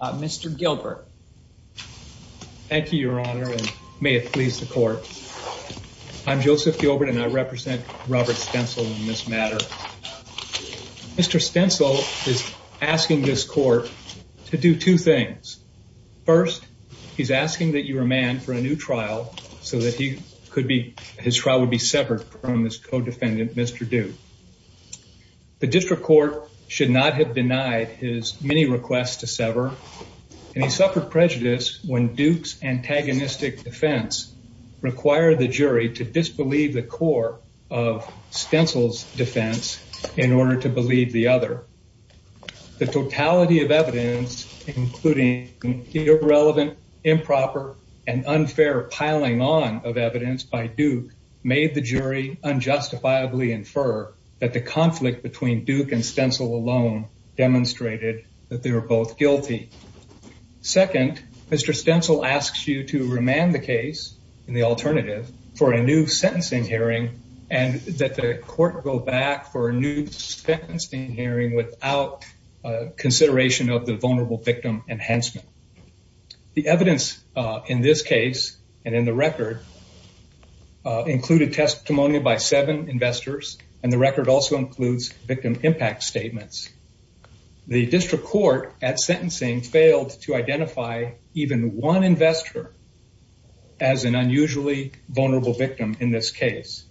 Mr. Gilbert. Thank you your honor and may it please the court. I'm Joseph Gilbert and I represent Robert Stencil in this matter. Mr. Stencil is asking this court to do two things. First he's asking that you remand for a new trial so that he could be his trial would be severed from his court should not have denied his many requests to sever and he suffered prejudice when Duke's antagonistic defense required the jury to disbelieve the core of Stencil's defense in order to believe the other. The totality of evidence including irrelevant improper and unfair piling on of evidence by Duke made the jury unjustifiably infer that the conflict between Duke and Stencil alone demonstrated that they were both guilty. Second Mr. Stencil asks you to remand the case in the alternative for a new sentencing hearing and that the court go back for a new sentencing hearing without consideration of the vulnerable victim enhancement. The evidence in this case and in the record include a testimony by seven investors and the record also includes victim impact statements. The district court at sentencing failed to identify even one investor as an unusually vulnerable victim in this case.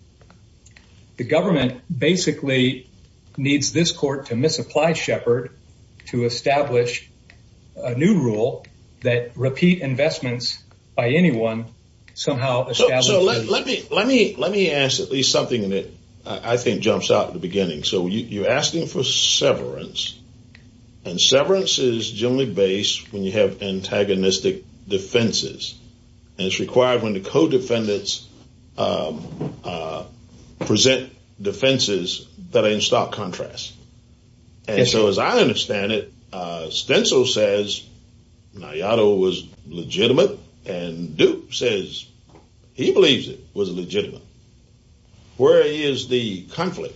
The government basically needs this court to misapply Shepard to establish a new rule that repeat investments by anyone somehow. So let me let me let me ask at least something that I think jumps out at the beginning. So you're asking for severance and severance is generally based when you have antagonistic defenses and it's required when the co-defendants present defenses that are in stark contrast and so as I understand it uh Stencil says Nayato was legitimate and Duke says he believes it was legitimate. Where is the conflict?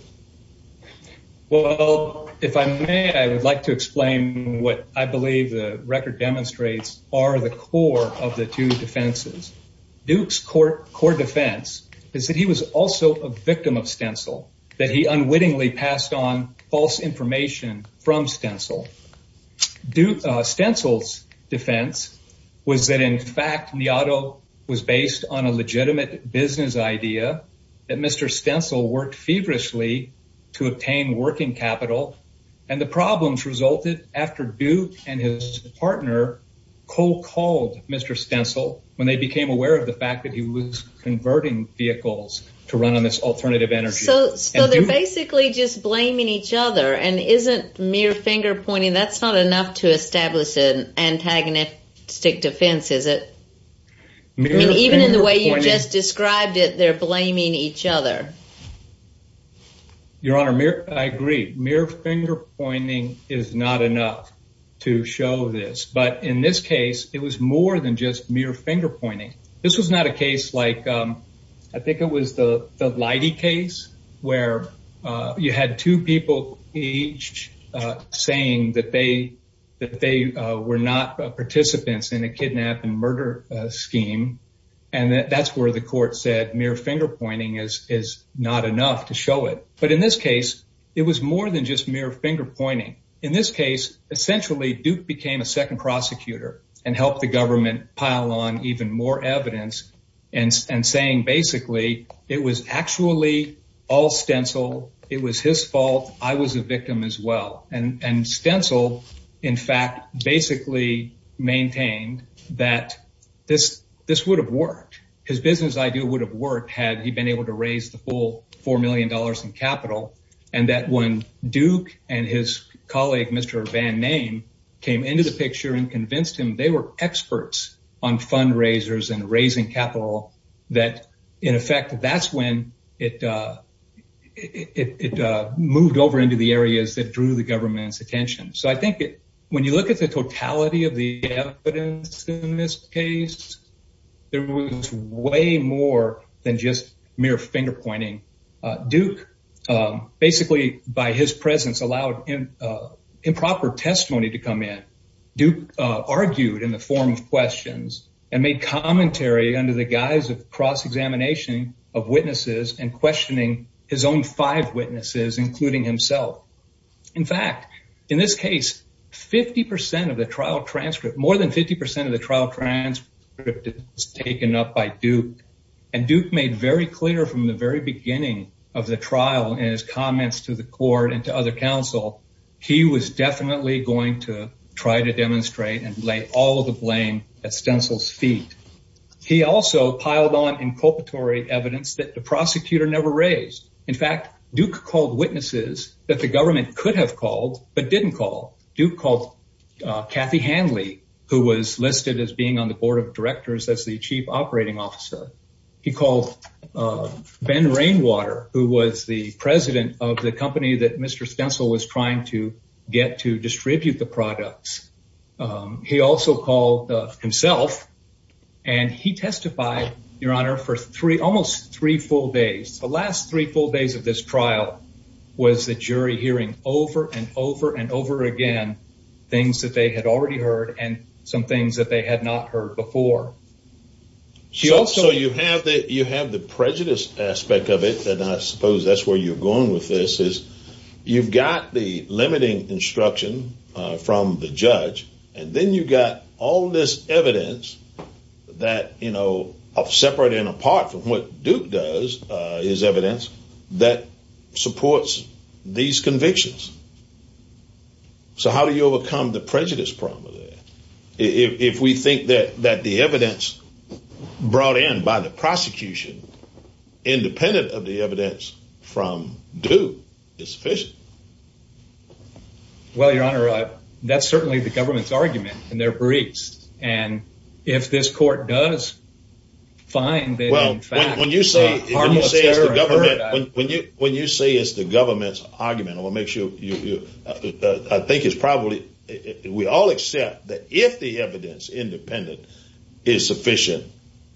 Well if I may I would like to explain what I believe the record demonstrates are the core of the two defenses. Duke's court core defense is that he was also a victim of Stencil that he unwittingly passed on false information from Stencil. Stencil's defense was that in fact Nayato was based on a legitimate business idea that Mr. Stencil worked feverishly to obtain working capital and the problems resulted after Duke and his partner co-called Mr. Stencil when they became aware of the fact that he was converting vehicles to run on this alternative energy. So so they're basically just blaming each other and isn't mere finger pointing that's not enough to establish an antagonistic defense is it? I mean even in the way you just described it they're blaming each other. Your honor I agree mere finger pointing is not enough to show this but in this case it was more than just mere finger pointing. This was not a case like I think it was the the Leidy case where you had two people each saying that they that they were not participants in a kidnap and murder scheme and that's where the court said mere finger pointing is is not enough to show it. But in this case it was more than just mere finger pointing. In this case essentially Duke became a second prosecutor and helped the government pile on even more evidence and and saying basically it was actually all Stencil it was his fault I was a victim as well and and Stencil in fact basically maintained that this this would have worked his business idea would have worked had he been able to raise the full four million dollars in capital and that when Duke and his colleague Mr. Van Name came into the picture and convinced him they were experts on fundraisers and raising capital that in effect that's when it it moved over into the areas that drew the government's attention. So I think when you look at the totality of the evidence in this case there was way more than just mere finger pointing. Duke basically by his presence allowed him improper testimony to come in. Duke argued in the form of questions and made commentary under the guise of cross-examination of witnesses and questioning his own five witnesses including himself. In fact in this case 50 percent of the trial transcript more than 50 percent of the trial transcript is taken up by Duke and Duke made very clear from the very beginning of the trial and his was definitely going to try to demonstrate and lay all the blame at Stencil's feet. He also piled on inculpatory evidence that the prosecutor never raised. In fact Duke called witnesses that the government could have called but didn't call. Duke called Kathy Hanley who was listed as being on the board of directors as the chief operating officer. He called Ben Rainwater who was the president of the company that Mr. Stencil was trying to get to distribute the products. He also called himself and he testified your honor for three almost three full days. The last three full days of this trial was the jury hearing over and over and over again things that they had already heard and some things that they had not heard before. So you have that you have the prejudice aspect of it and I suppose that's where you're going with this is you've got the limiting instruction from the judge and then you got all this evidence that you know of separate and apart from what Duke does is evidence that supports these convictions. So how do you overcome the prejudice problem there? If we think that that the evidence brought in by the prosecution independent of the evidence from Duke is sufficient. Well your honor that's certainly the government's argument and they're briefs and if this court does find that in fact when you say when you say it's the government's argument I want to make sure you I think it's probably we all accept that if the evidence independent is sufficient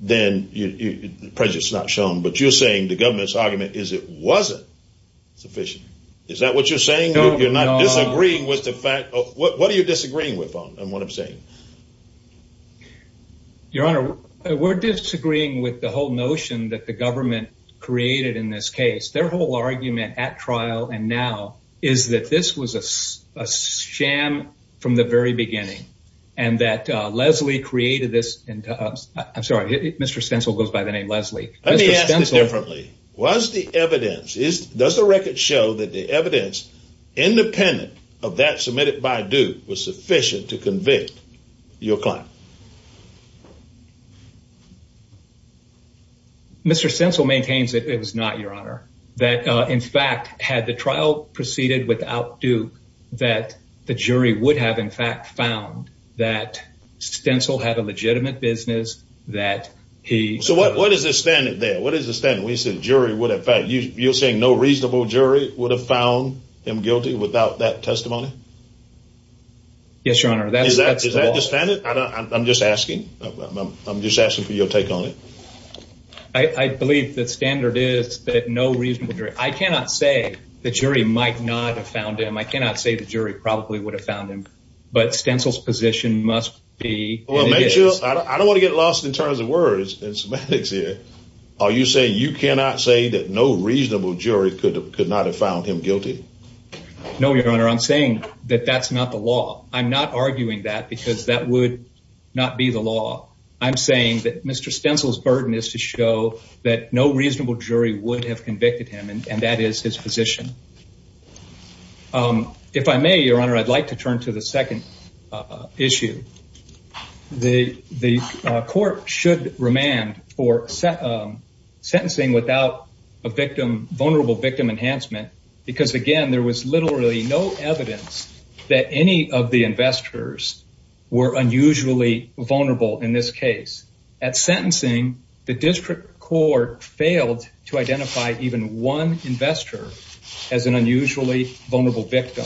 then you prejudice is not shown but you're saying the government's argument is it wasn't sufficient. Is that what you're saying? You're not disagreeing with the fact of what are you disagreeing with on and what I'm saying? Your honor we're disagreeing with the whole notion that the government created in this case. Their whole argument at trial and now is that this was a sham from the very beginning and that Leslie created this and I'm Mr. Stencil goes by the name Leslie. Let me ask you differently was the evidence is does the record show that the evidence independent of that submitted by Duke was sufficient to convict your client? Mr. Stencil maintains that it was not your honor that in fact had the trial proceeded without Duke that the jury would have in fact found that Stencil had a legitimate business that he. So what is the standard there? What is the standard? We said jury would in fact you're saying no reasonable jury would have found him guilty without that testimony? Yes your honor. Is that the standard? I'm just asking. I'm just asking for your take on it. I believe the standard is that no reasonable I cannot say the jury might not have found him. I cannot say the jury probably would have found him but Stencil's position must be. I don't want to get lost in terms of words and semantics here. Are you saying you cannot say that no reasonable jury could could not have found him guilty? No your honor. I'm saying that that's not the law. I'm not arguing that because that would not be the law. I'm saying that Mr. Stencil's burden is to show that no reasonable jury would have convicted him and that is his position. If I may your honor I'd like to turn to the second issue. The court should remand for sentencing without a victim vulnerable victim enhancement because again there was literally no evidence that any of the investors were unusually vulnerable in this case. At sentencing the district court failed to identify even one investor as an unusually vulnerable victim.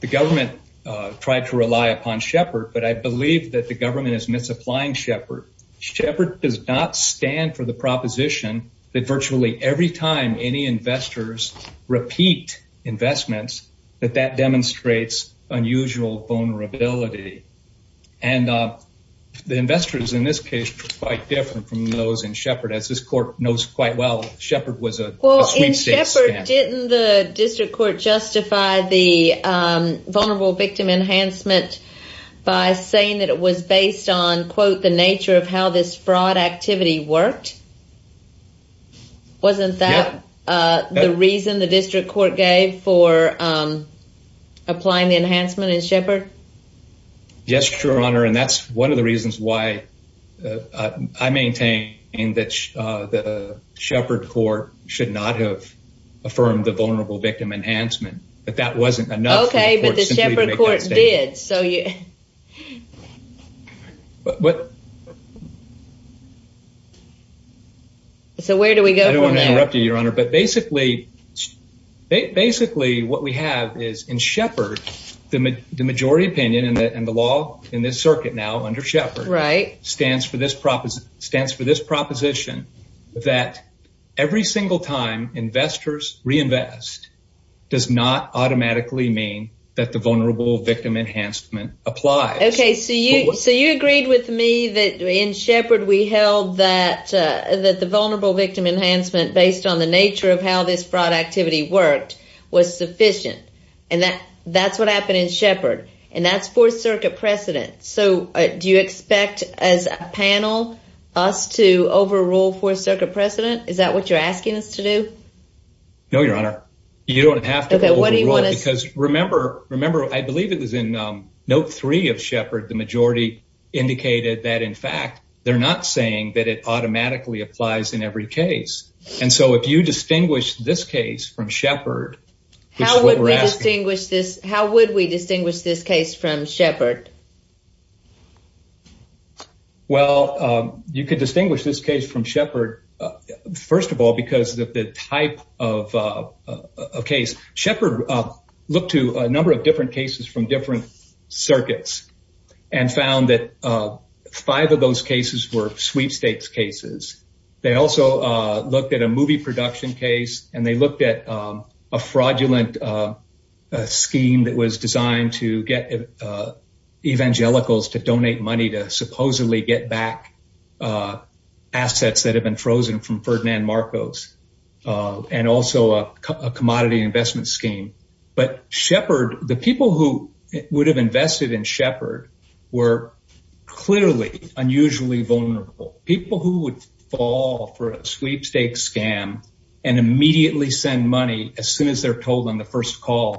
The government tried to rely upon Shepard but I believe that the government is misapplying Shepard. Shepard does not stand for the proposition that virtually every time any investors repeat investments that that demonstrates unusual vulnerability and the investors in this case were quite different from those in Shepard. As this court knows quite well Shepard was a well in Shepard. Didn't the district court justify the vulnerable victim enhancement by saying that it was based on quote the nature of how this fraud activity worked? Wasn't that the reason the district court gave for applying the enhancement in Shepard? Yes your honor and that's one of the reasons why I maintain that the Shepard court should not have affirmed the vulnerable victim enhancement but that wasn't enough. Okay but the Shepard court did so you what so where do we go? I don't want to interrupt you your honor but basically basically what we have is in Shepard the majority opinion and the law in this circuit now under Shepard stands for this proposition that every single time investors reinvest does not automatically mean that the vulnerable victim enhancement applies. Okay so you so you agreed with me that in Shepard we held that that the vulnerable victim enhancement based on the nature of how this fraud activity worked was sufficient and that that's what happened in Shepard and that's fourth circuit precedent. So do you expect as a panel us to overrule fourth circuit precedent? Is that what you're asking us to do? No your honor you don't have to because remember remember I believe it was in note three of Shepard the majority indicated that in fact they're not saying that it automatically applies in every case and so if you distinguish this case from Shepard how would we distinguish this how would we distinguish this case from Shepard? Well you could distinguish this case from Shepard first of all because of the type of a case. Shepard looked to a number of different cases from different circuits and found that five of those cases were sweepstakes cases. They also looked at a movie production case and they asked evangelicals to donate money to supposedly get back assets that have been frozen from Ferdinand Marcos and also a commodity investment scheme. But Shepard the people who would have invested in Shepard were clearly unusually vulnerable. People who would fall for a sweepstakes scam and immediately send money as soon as they're told on the first call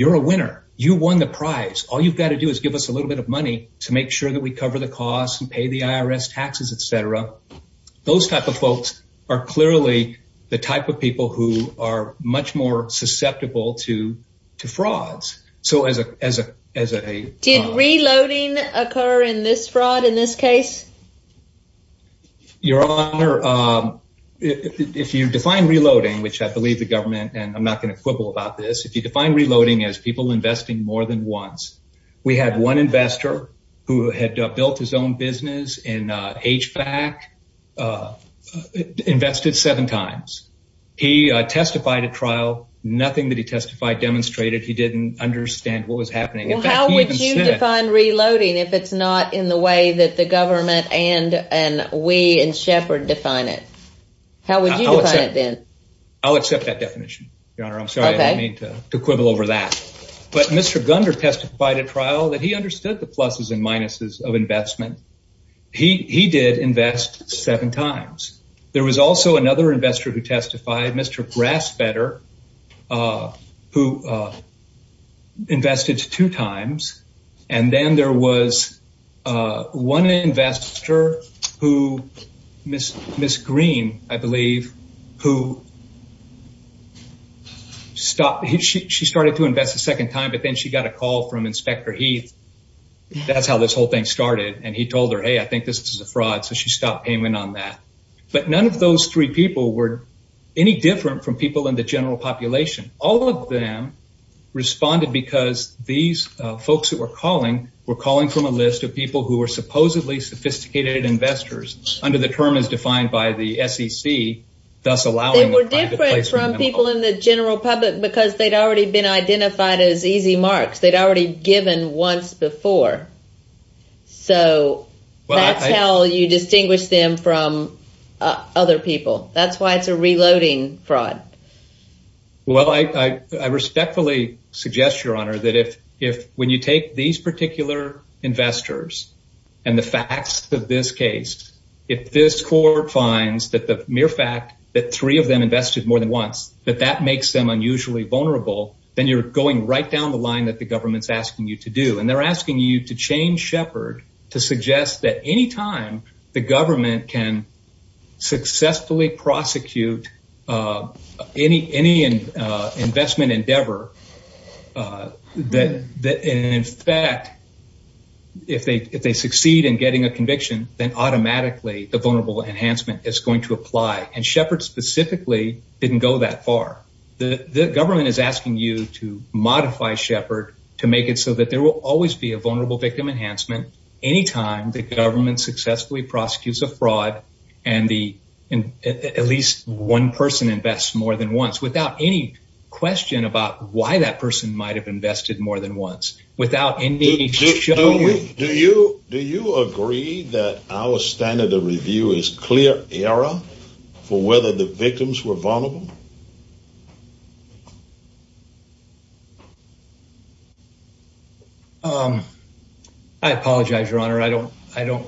you're a winner you won the prize all you've got to do is give us a little bit of money to make sure that we cover the costs and pay the IRS taxes etc. Those type of folks are clearly the type of people who are much more susceptible to to frauds. So as a as a as a did reloading occur in this fraud in this case? Your honor if you define reloading which I believe the government and I'm not going to quibble about this if you define reloading as people investing more than once. We had one investor who had built his own business in HVAC invested seven times. He testified at trial nothing that he testified demonstrated he didn't understand what was happening. How would you define reloading if it's not in the way that the government and we and Shepard define it? How would you define it then? I'll accept that definition your honor. I'm sorry I don't mean to quibble over that but Mr. Gunder testified at trial that he understood the pluses and minuses of investment. He he did invest seven times. There was also another investor who testified Mr. Grassbetter who invested two times and then there was one investor who Miss Green I believe who stopped he she started to invest a second time but then she got a call from Inspector Heath. That's how this whole thing started and he told her hey I think this is a any different from people in the general population. All of them responded because these folks that were calling were calling from a list of people who were supposedly sophisticated investors under the term as defined by the SEC. They were different from people in the general public because they'd already been identified as easy marks. They'd already given once before so that's how you distinguish them from other people. That's why it's a reloading fraud. Well I respectfully suggest your honor that if if when you take these particular investors and the facts of this case if this court finds that the mere fact that three of them invested more than once that that makes them unusually vulnerable then you're going right down the line that the government's asking you to do and they're asking you to change Shepard to suggest that any time the government can successfully prosecute any investment endeavor that in fact if they succeed in getting a conviction then automatically the vulnerable enhancement is going to apply and Shepard specifically didn't go that far. The government is asking you to modify Shepard to make it so that there will always be a vulnerable victim enhancement any time the government successfully prosecutes a fraud and the and at least one person invests more than once without any question about why that person might have invested more than once without any do you do you agree that our standard of review is clear error for whether the victims were vulnerable? I apologize your honor I don't I don't.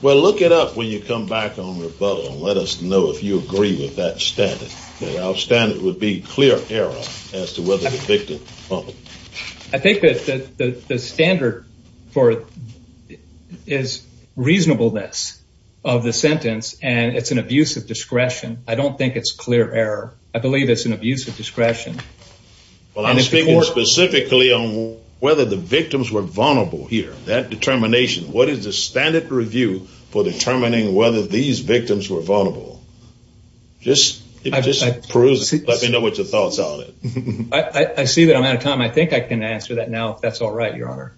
Well look it up when you come back on rebuttal and let us know if you agree with that standard that our standard would be clear error as to whether the victim. I think that the the standard for is reasonableness of the sentence and it's an abuse of discretion I don't think it's clear error I believe it's an abuse of discretion. Well I'm speaking specifically on whether the victims were vulnerable here that determination what is the standard review for determining whether these victims were vulnerable just just peruse let me know what your thoughts on it. I see that I'm out of time I think I can answer that now if that's all right your honor.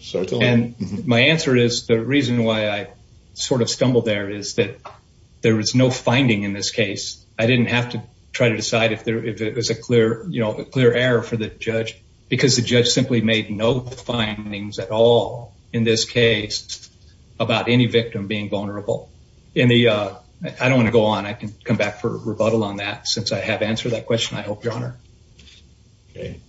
Certainly. And my answer is the reason why I sort of stumbled there is that there was no finding in this case I didn't have to try to decide if there if it was a clear you know a clear error for the judge because the judge simply made no findings at all in this case about any victim being vulnerable in the I don't want to go on I can come back for rebuttal on that since I have answered that question I hope your honor. Okay I'd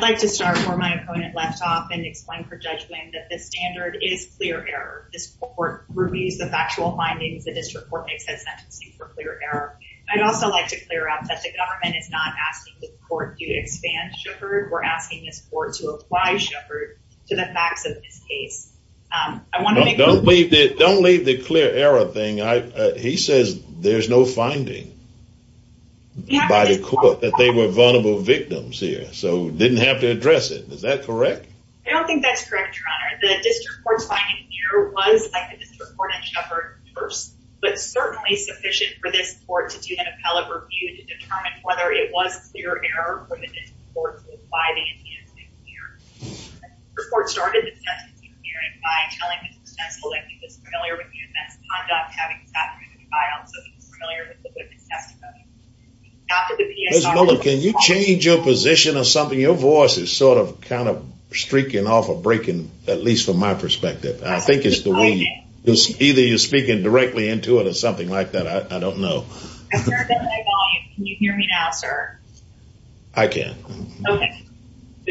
like to start where my opponent left off and explain for judgment that the standard is clear error this court reviews the factual findings the district court makes that sentencing for clear error. I'd also like to clear up that the government is not asking the court to expand Sheppard we're asking this court to apply Sheppard to the facts of this case. I want to don't leave the don't leave the clear error thing I he says there's no finding by the court that they were victims here so didn't have to address it is that correct? I don't think that's correct your honor the district court's finding here was like the district court in Sheppard first but certainly sufficient for this court to do an appellate review to determine whether it was clear error from the district court to apply the antecedent here. The court started the sentencing hearing by telling the successful that he was familiar with the event's conduct having sat through the trial so he's familiar with the witness testimony. Can you change your position or something your voice is sort of kind of streaking off or breaking at least from my perspective I think it's the way either you're speaking directly into it or something like that I don't know. Can you hear me now sir? I can. Okay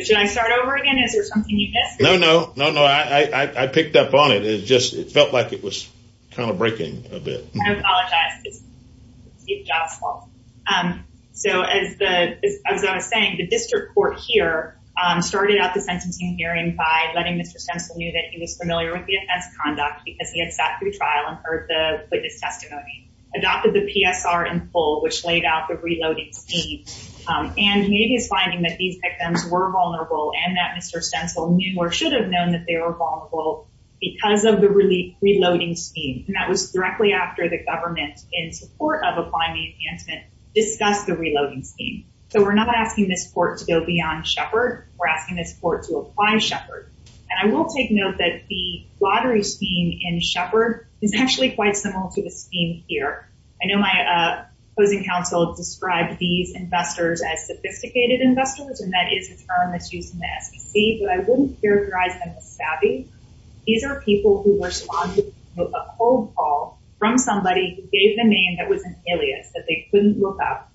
should I start over again is there something you missed? No no no no I picked up on it it just it felt like it was kind of breaking a bit. I apologize it's Steve Jobs fault. So as the as I was saying the district court here started out the sentencing hearing by letting Mr. Stensel knew that he was familiar with the offense conduct because he had sat through trial and heard the witness testimony adopted the PSR in full which laid out the reloading speed and maybe he's finding that these victims were vulnerable and that Mr. Stensel knew or should have known that they were vulnerable because of the relief in support of applying the enhancement discuss the reloading scheme. So we're not asking this court to go beyond Shepard we're asking this court to apply Shepard and I will take note that the lottery scheme in Shepard is actually quite similar to the scheme here. I know my opposing counsel described these investors as sophisticated investors and that is a term that's used in the SEC but I wouldn't characterize them as savvy. These are people who responded with a cold call from somebody who gave them a name that was an alias that they couldn't look up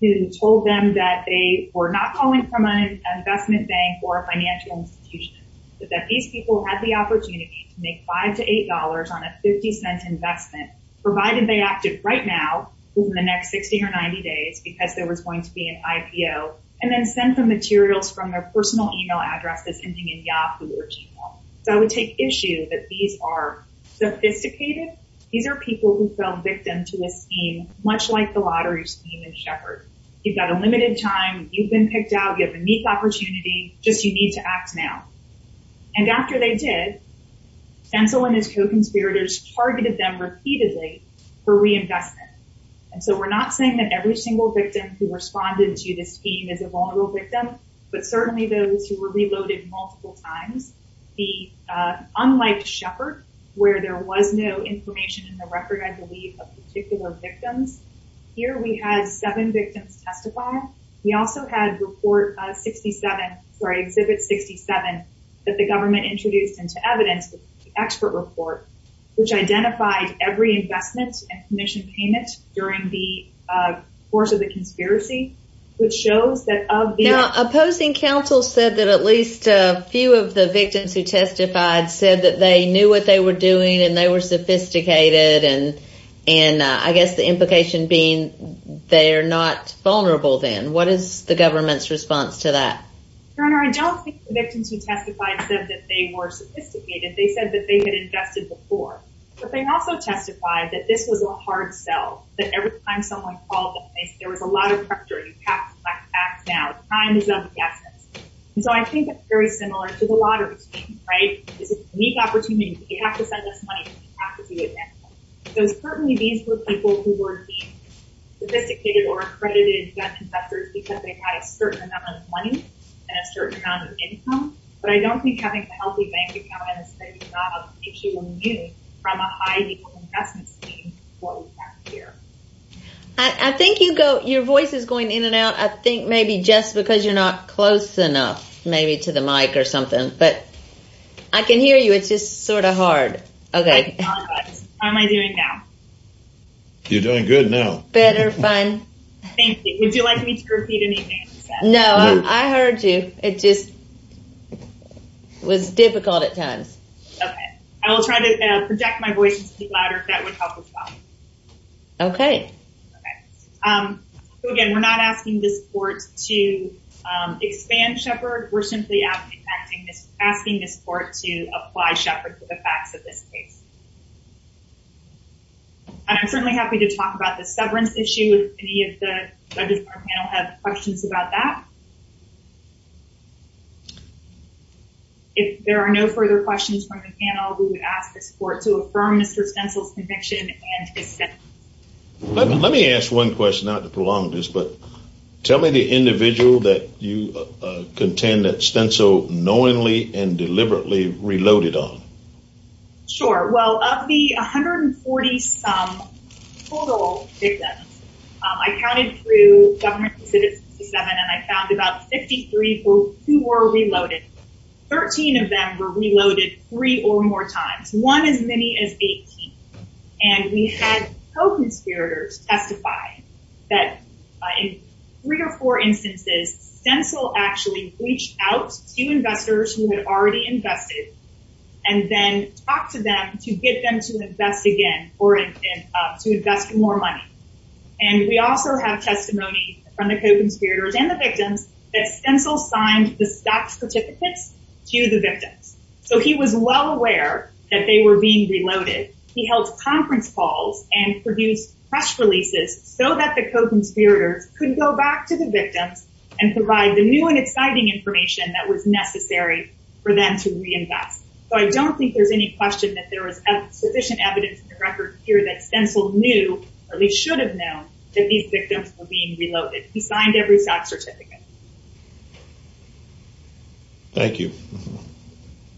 who told them that they were not calling from an investment bank or a financial institution but that these people had the opportunity to make five to eight dollars on a 50 cent investment provided they acted right now within the next 60 or 90 days because there was going to be an IPO and then send the materials from their personal email address as ending in Yahoo or Gmail. So I would take issue that these are sophisticated these are people who fell victim to this scheme much like the lottery scheme in Shepard. You've got a limited time you've been picked out you have a neat opportunity just you need to act now and after they did Fentzel and his co-conspirators targeted them repeatedly for reinvestment and so we're not saying that every single victim who responded to this scheme is a vulnerable victim but certainly those who were reloaded multiple times the unlike Shepard where there was no information in the record I believe of particular victims here we had seven victims testify we also had report 67 sorry exhibit 67 that the government introduced into evidence the expert report which identified every investment and commission payment during the course of the conspiracy which shows that of the opposing counsel said that at least a few of the victims who testified said that they knew what they were doing and they were sophisticated and and I guess the implication being they are not vulnerable then what is the government's response to that your honor I don't think the victims who testified said that they were sophisticated they said that they had invested before but they also testified that this was a hard sell that every time someone called them there was a lot of pressure you have now time is of the essence and so I think it's very similar to the lottery scheme right it's a unique opportunity you have to send this money you have to do it now so certainly these were people who were being sophisticated or accredited debt investors because they had a certain amount of money and a certain amount of income but I don't think having a healthy bank account is a job if you were new from a high-level investment scheme what we have here I think you go your voice is going in and out I think maybe just because you're not close enough maybe to the mic or something but I can hear you it's just sort of hard okay how am I doing now you're doing good now better fine thank you would you like me to repeat anything no I heard you it just was difficult at times okay I will try to project my voice into the ladder if that would help as well okay okay so again we're not asking this court to expand shepherd we're simply asking this asking this court to apply shepherd to the facts of this case and I'm certainly happy to talk about the severance issue if any of the judges on our panel have questions about that if there are no further questions from the panel we would ask this court to affirm mr stencil's conviction and let me ask one question not to prolong this but tell me the individual that you contend that stencil knowingly and deliberately reloaded on sure well of the 140 some total victims I counted through government and I found about 53 who were reloaded 13 of them were reloaded three or more times one as many as 18 and we had co-conspirators testify that in three or four instances stencil actually reached out to investors who had already invested and then talked to them to get them to invest again or to invest more money and we also have testimony from the co-conspirators and the victims that signed the stock certificates to the victims so he was well aware that they were being reloaded he held conference calls and produced press releases so that the co-conspirators could go back to the victims and provide the new and exciting information that was necessary for them to reinvest so I don't think there's any question that there was sufficient evidence in the record here that stencil knew or they should have known that these victims were being reloaded signed every stock certificate. Thank you.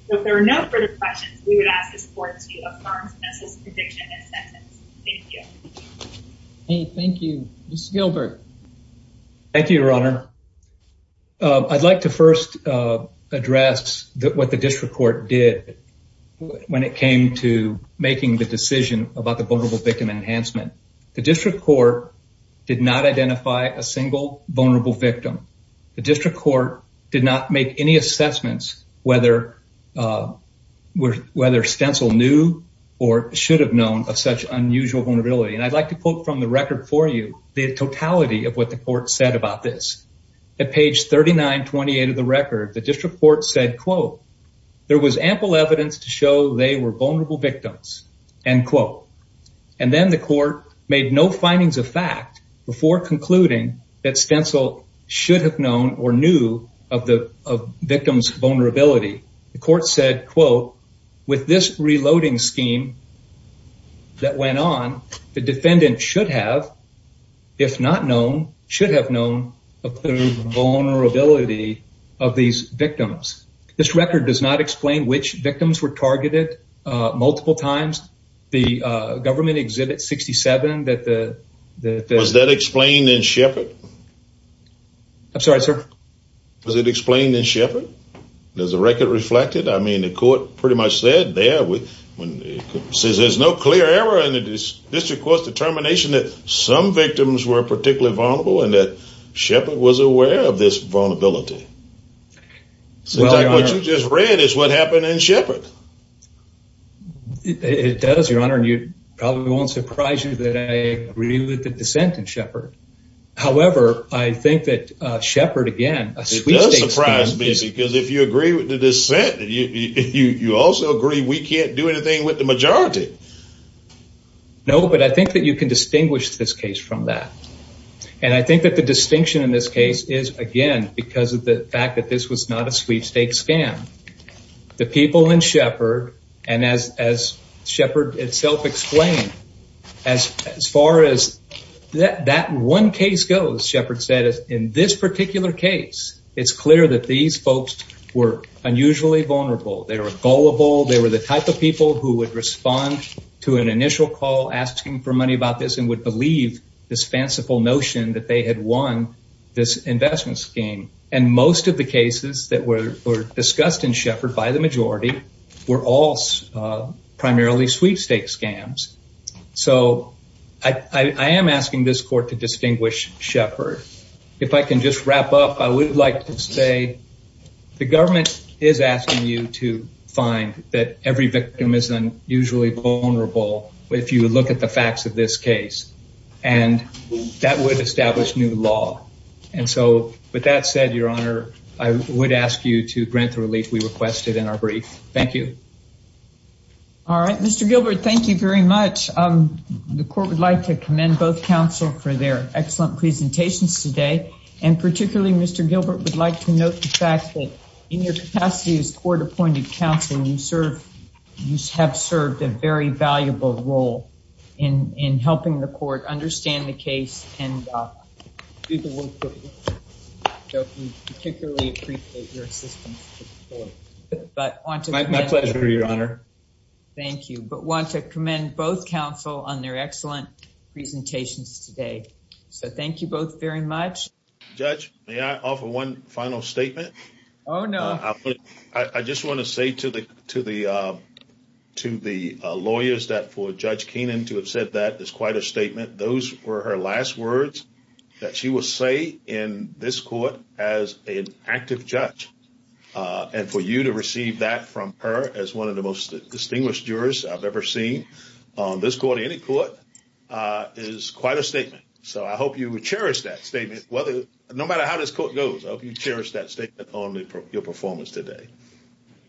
So if there are no further questions we would ask this court to affirm stencil's conviction and sentence. Thank you. Thank you. Mr. Gilbert. Thank you your honor. I'd like to first address that what the district court did when it came to making the decision about the vulnerable victim enhancement. The district court did not identify a single vulnerable victim. The district court did not make any assessments whether stencil knew or should have known of such unusual vulnerability and I'd like to quote from the record for you the totality of what the court said about this. At page 3928 of the record the district court said quote there was ample evidence to show they were vulnerable victims end quote and then the court made no findings of fact before concluding that stencil should have known or knew of the of victims vulnerability. The court said quote with this reloading scheme that went on the defendant should have if not known should have known of the vulnerability of these victims. This record does not explain which victims were targeted multiple times. The government exhibit 67 that the that was that explained in Sheppard. I'm sorry sir. Was it explained in Sheppard? Is the record reflected? I mean the court pretty much said there with when it says there's no clear error in the district court's determination that some victims were particularly vulnerable and that Sheppard was aware of this vulnerability. Well what you just read is what happened in Sheppard. It does your honor and you probably won't surprise you that I agree with the dissent in Sheppard. However I think that uh Sheppard again. It does surprise me because if you agree with the dissent that you you you also agree we can't do anything with the majority. No but I think that you can distinguish this case from that and I think that the distinction in this case is again because of the fact that this was not a sweepstakes scam. The people in Sheppard and as as Sheppard itself explained as as far as that that one case goes Sheppard said in this particular case it's clear that these folks were unusually vulnerable. They were gullible. They were the type of people who would respond to an initial call asking for money about this and would believe this fanciful notion that they had won this investment scheme and most of the cases that were discussed in Sheppard by the majority were all primarily sweepstakes scams. So I I am asking this court to distinguish Sheppard. If I can just wrap up I would like to say the government is asking you to find that every victim is unusually vulnerable if you look at the facts of this case and that would establish new law and so with that said your honor I would ask you to grant the relief we requested in our brief. Thank you. All right Mr. Gilbert thank you very much. The court would like to commend both counsel for their excellent presentations today and particularly Mr. Gilbert would like to note the fact that in your capacity as court-appointed counsel you serve you have served a very valuable role in in helping the court understand the case and do the work so we particularly appreciate your assistance. My pleasure your honor. Thank you but want to commend both counsel on their Oh no. I just want to say to the to the to the lawyers that for Judge Keenan to have said that is quite a statement those were her last words that she will say in this court as an active judge and for you to receive that from her as one of the most distinguished jurors I've ever seen on this court any court is quite a statement so I hope you cherish that statement whether no matter how this court goes I hope you cherish that statement on your performance today.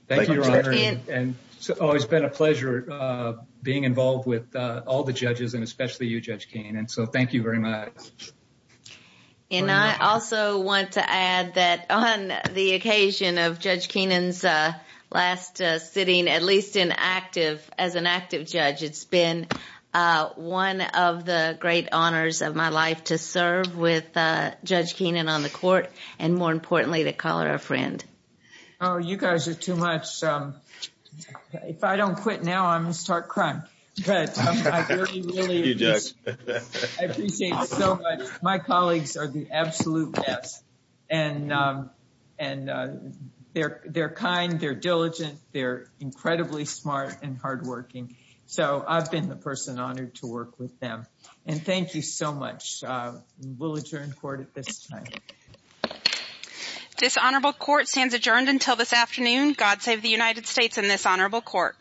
Thank you your honor and it's always been a pleasure being involved with all the judges and especially you Judge Keenan so thank you very much. And I also want to add that on the occasion of Judge Keenan's last sitting at least in active as an active judge it's been one of the great honors of my life to serve with Judge Keenan on the court and more importantly to call her a friend. Oh you guys are too much if I don't quit now I'm gonna start crying but I appreciate so much my colleagues are the absolute best and and they're they're kind they're diligent they're incredibly smart and hard-working so I've been the person honored to work with them and thank you so much we'll adjourn court at this time. Dishonorable court stands adjourned until this afternoon. God save the United States in this honorable court.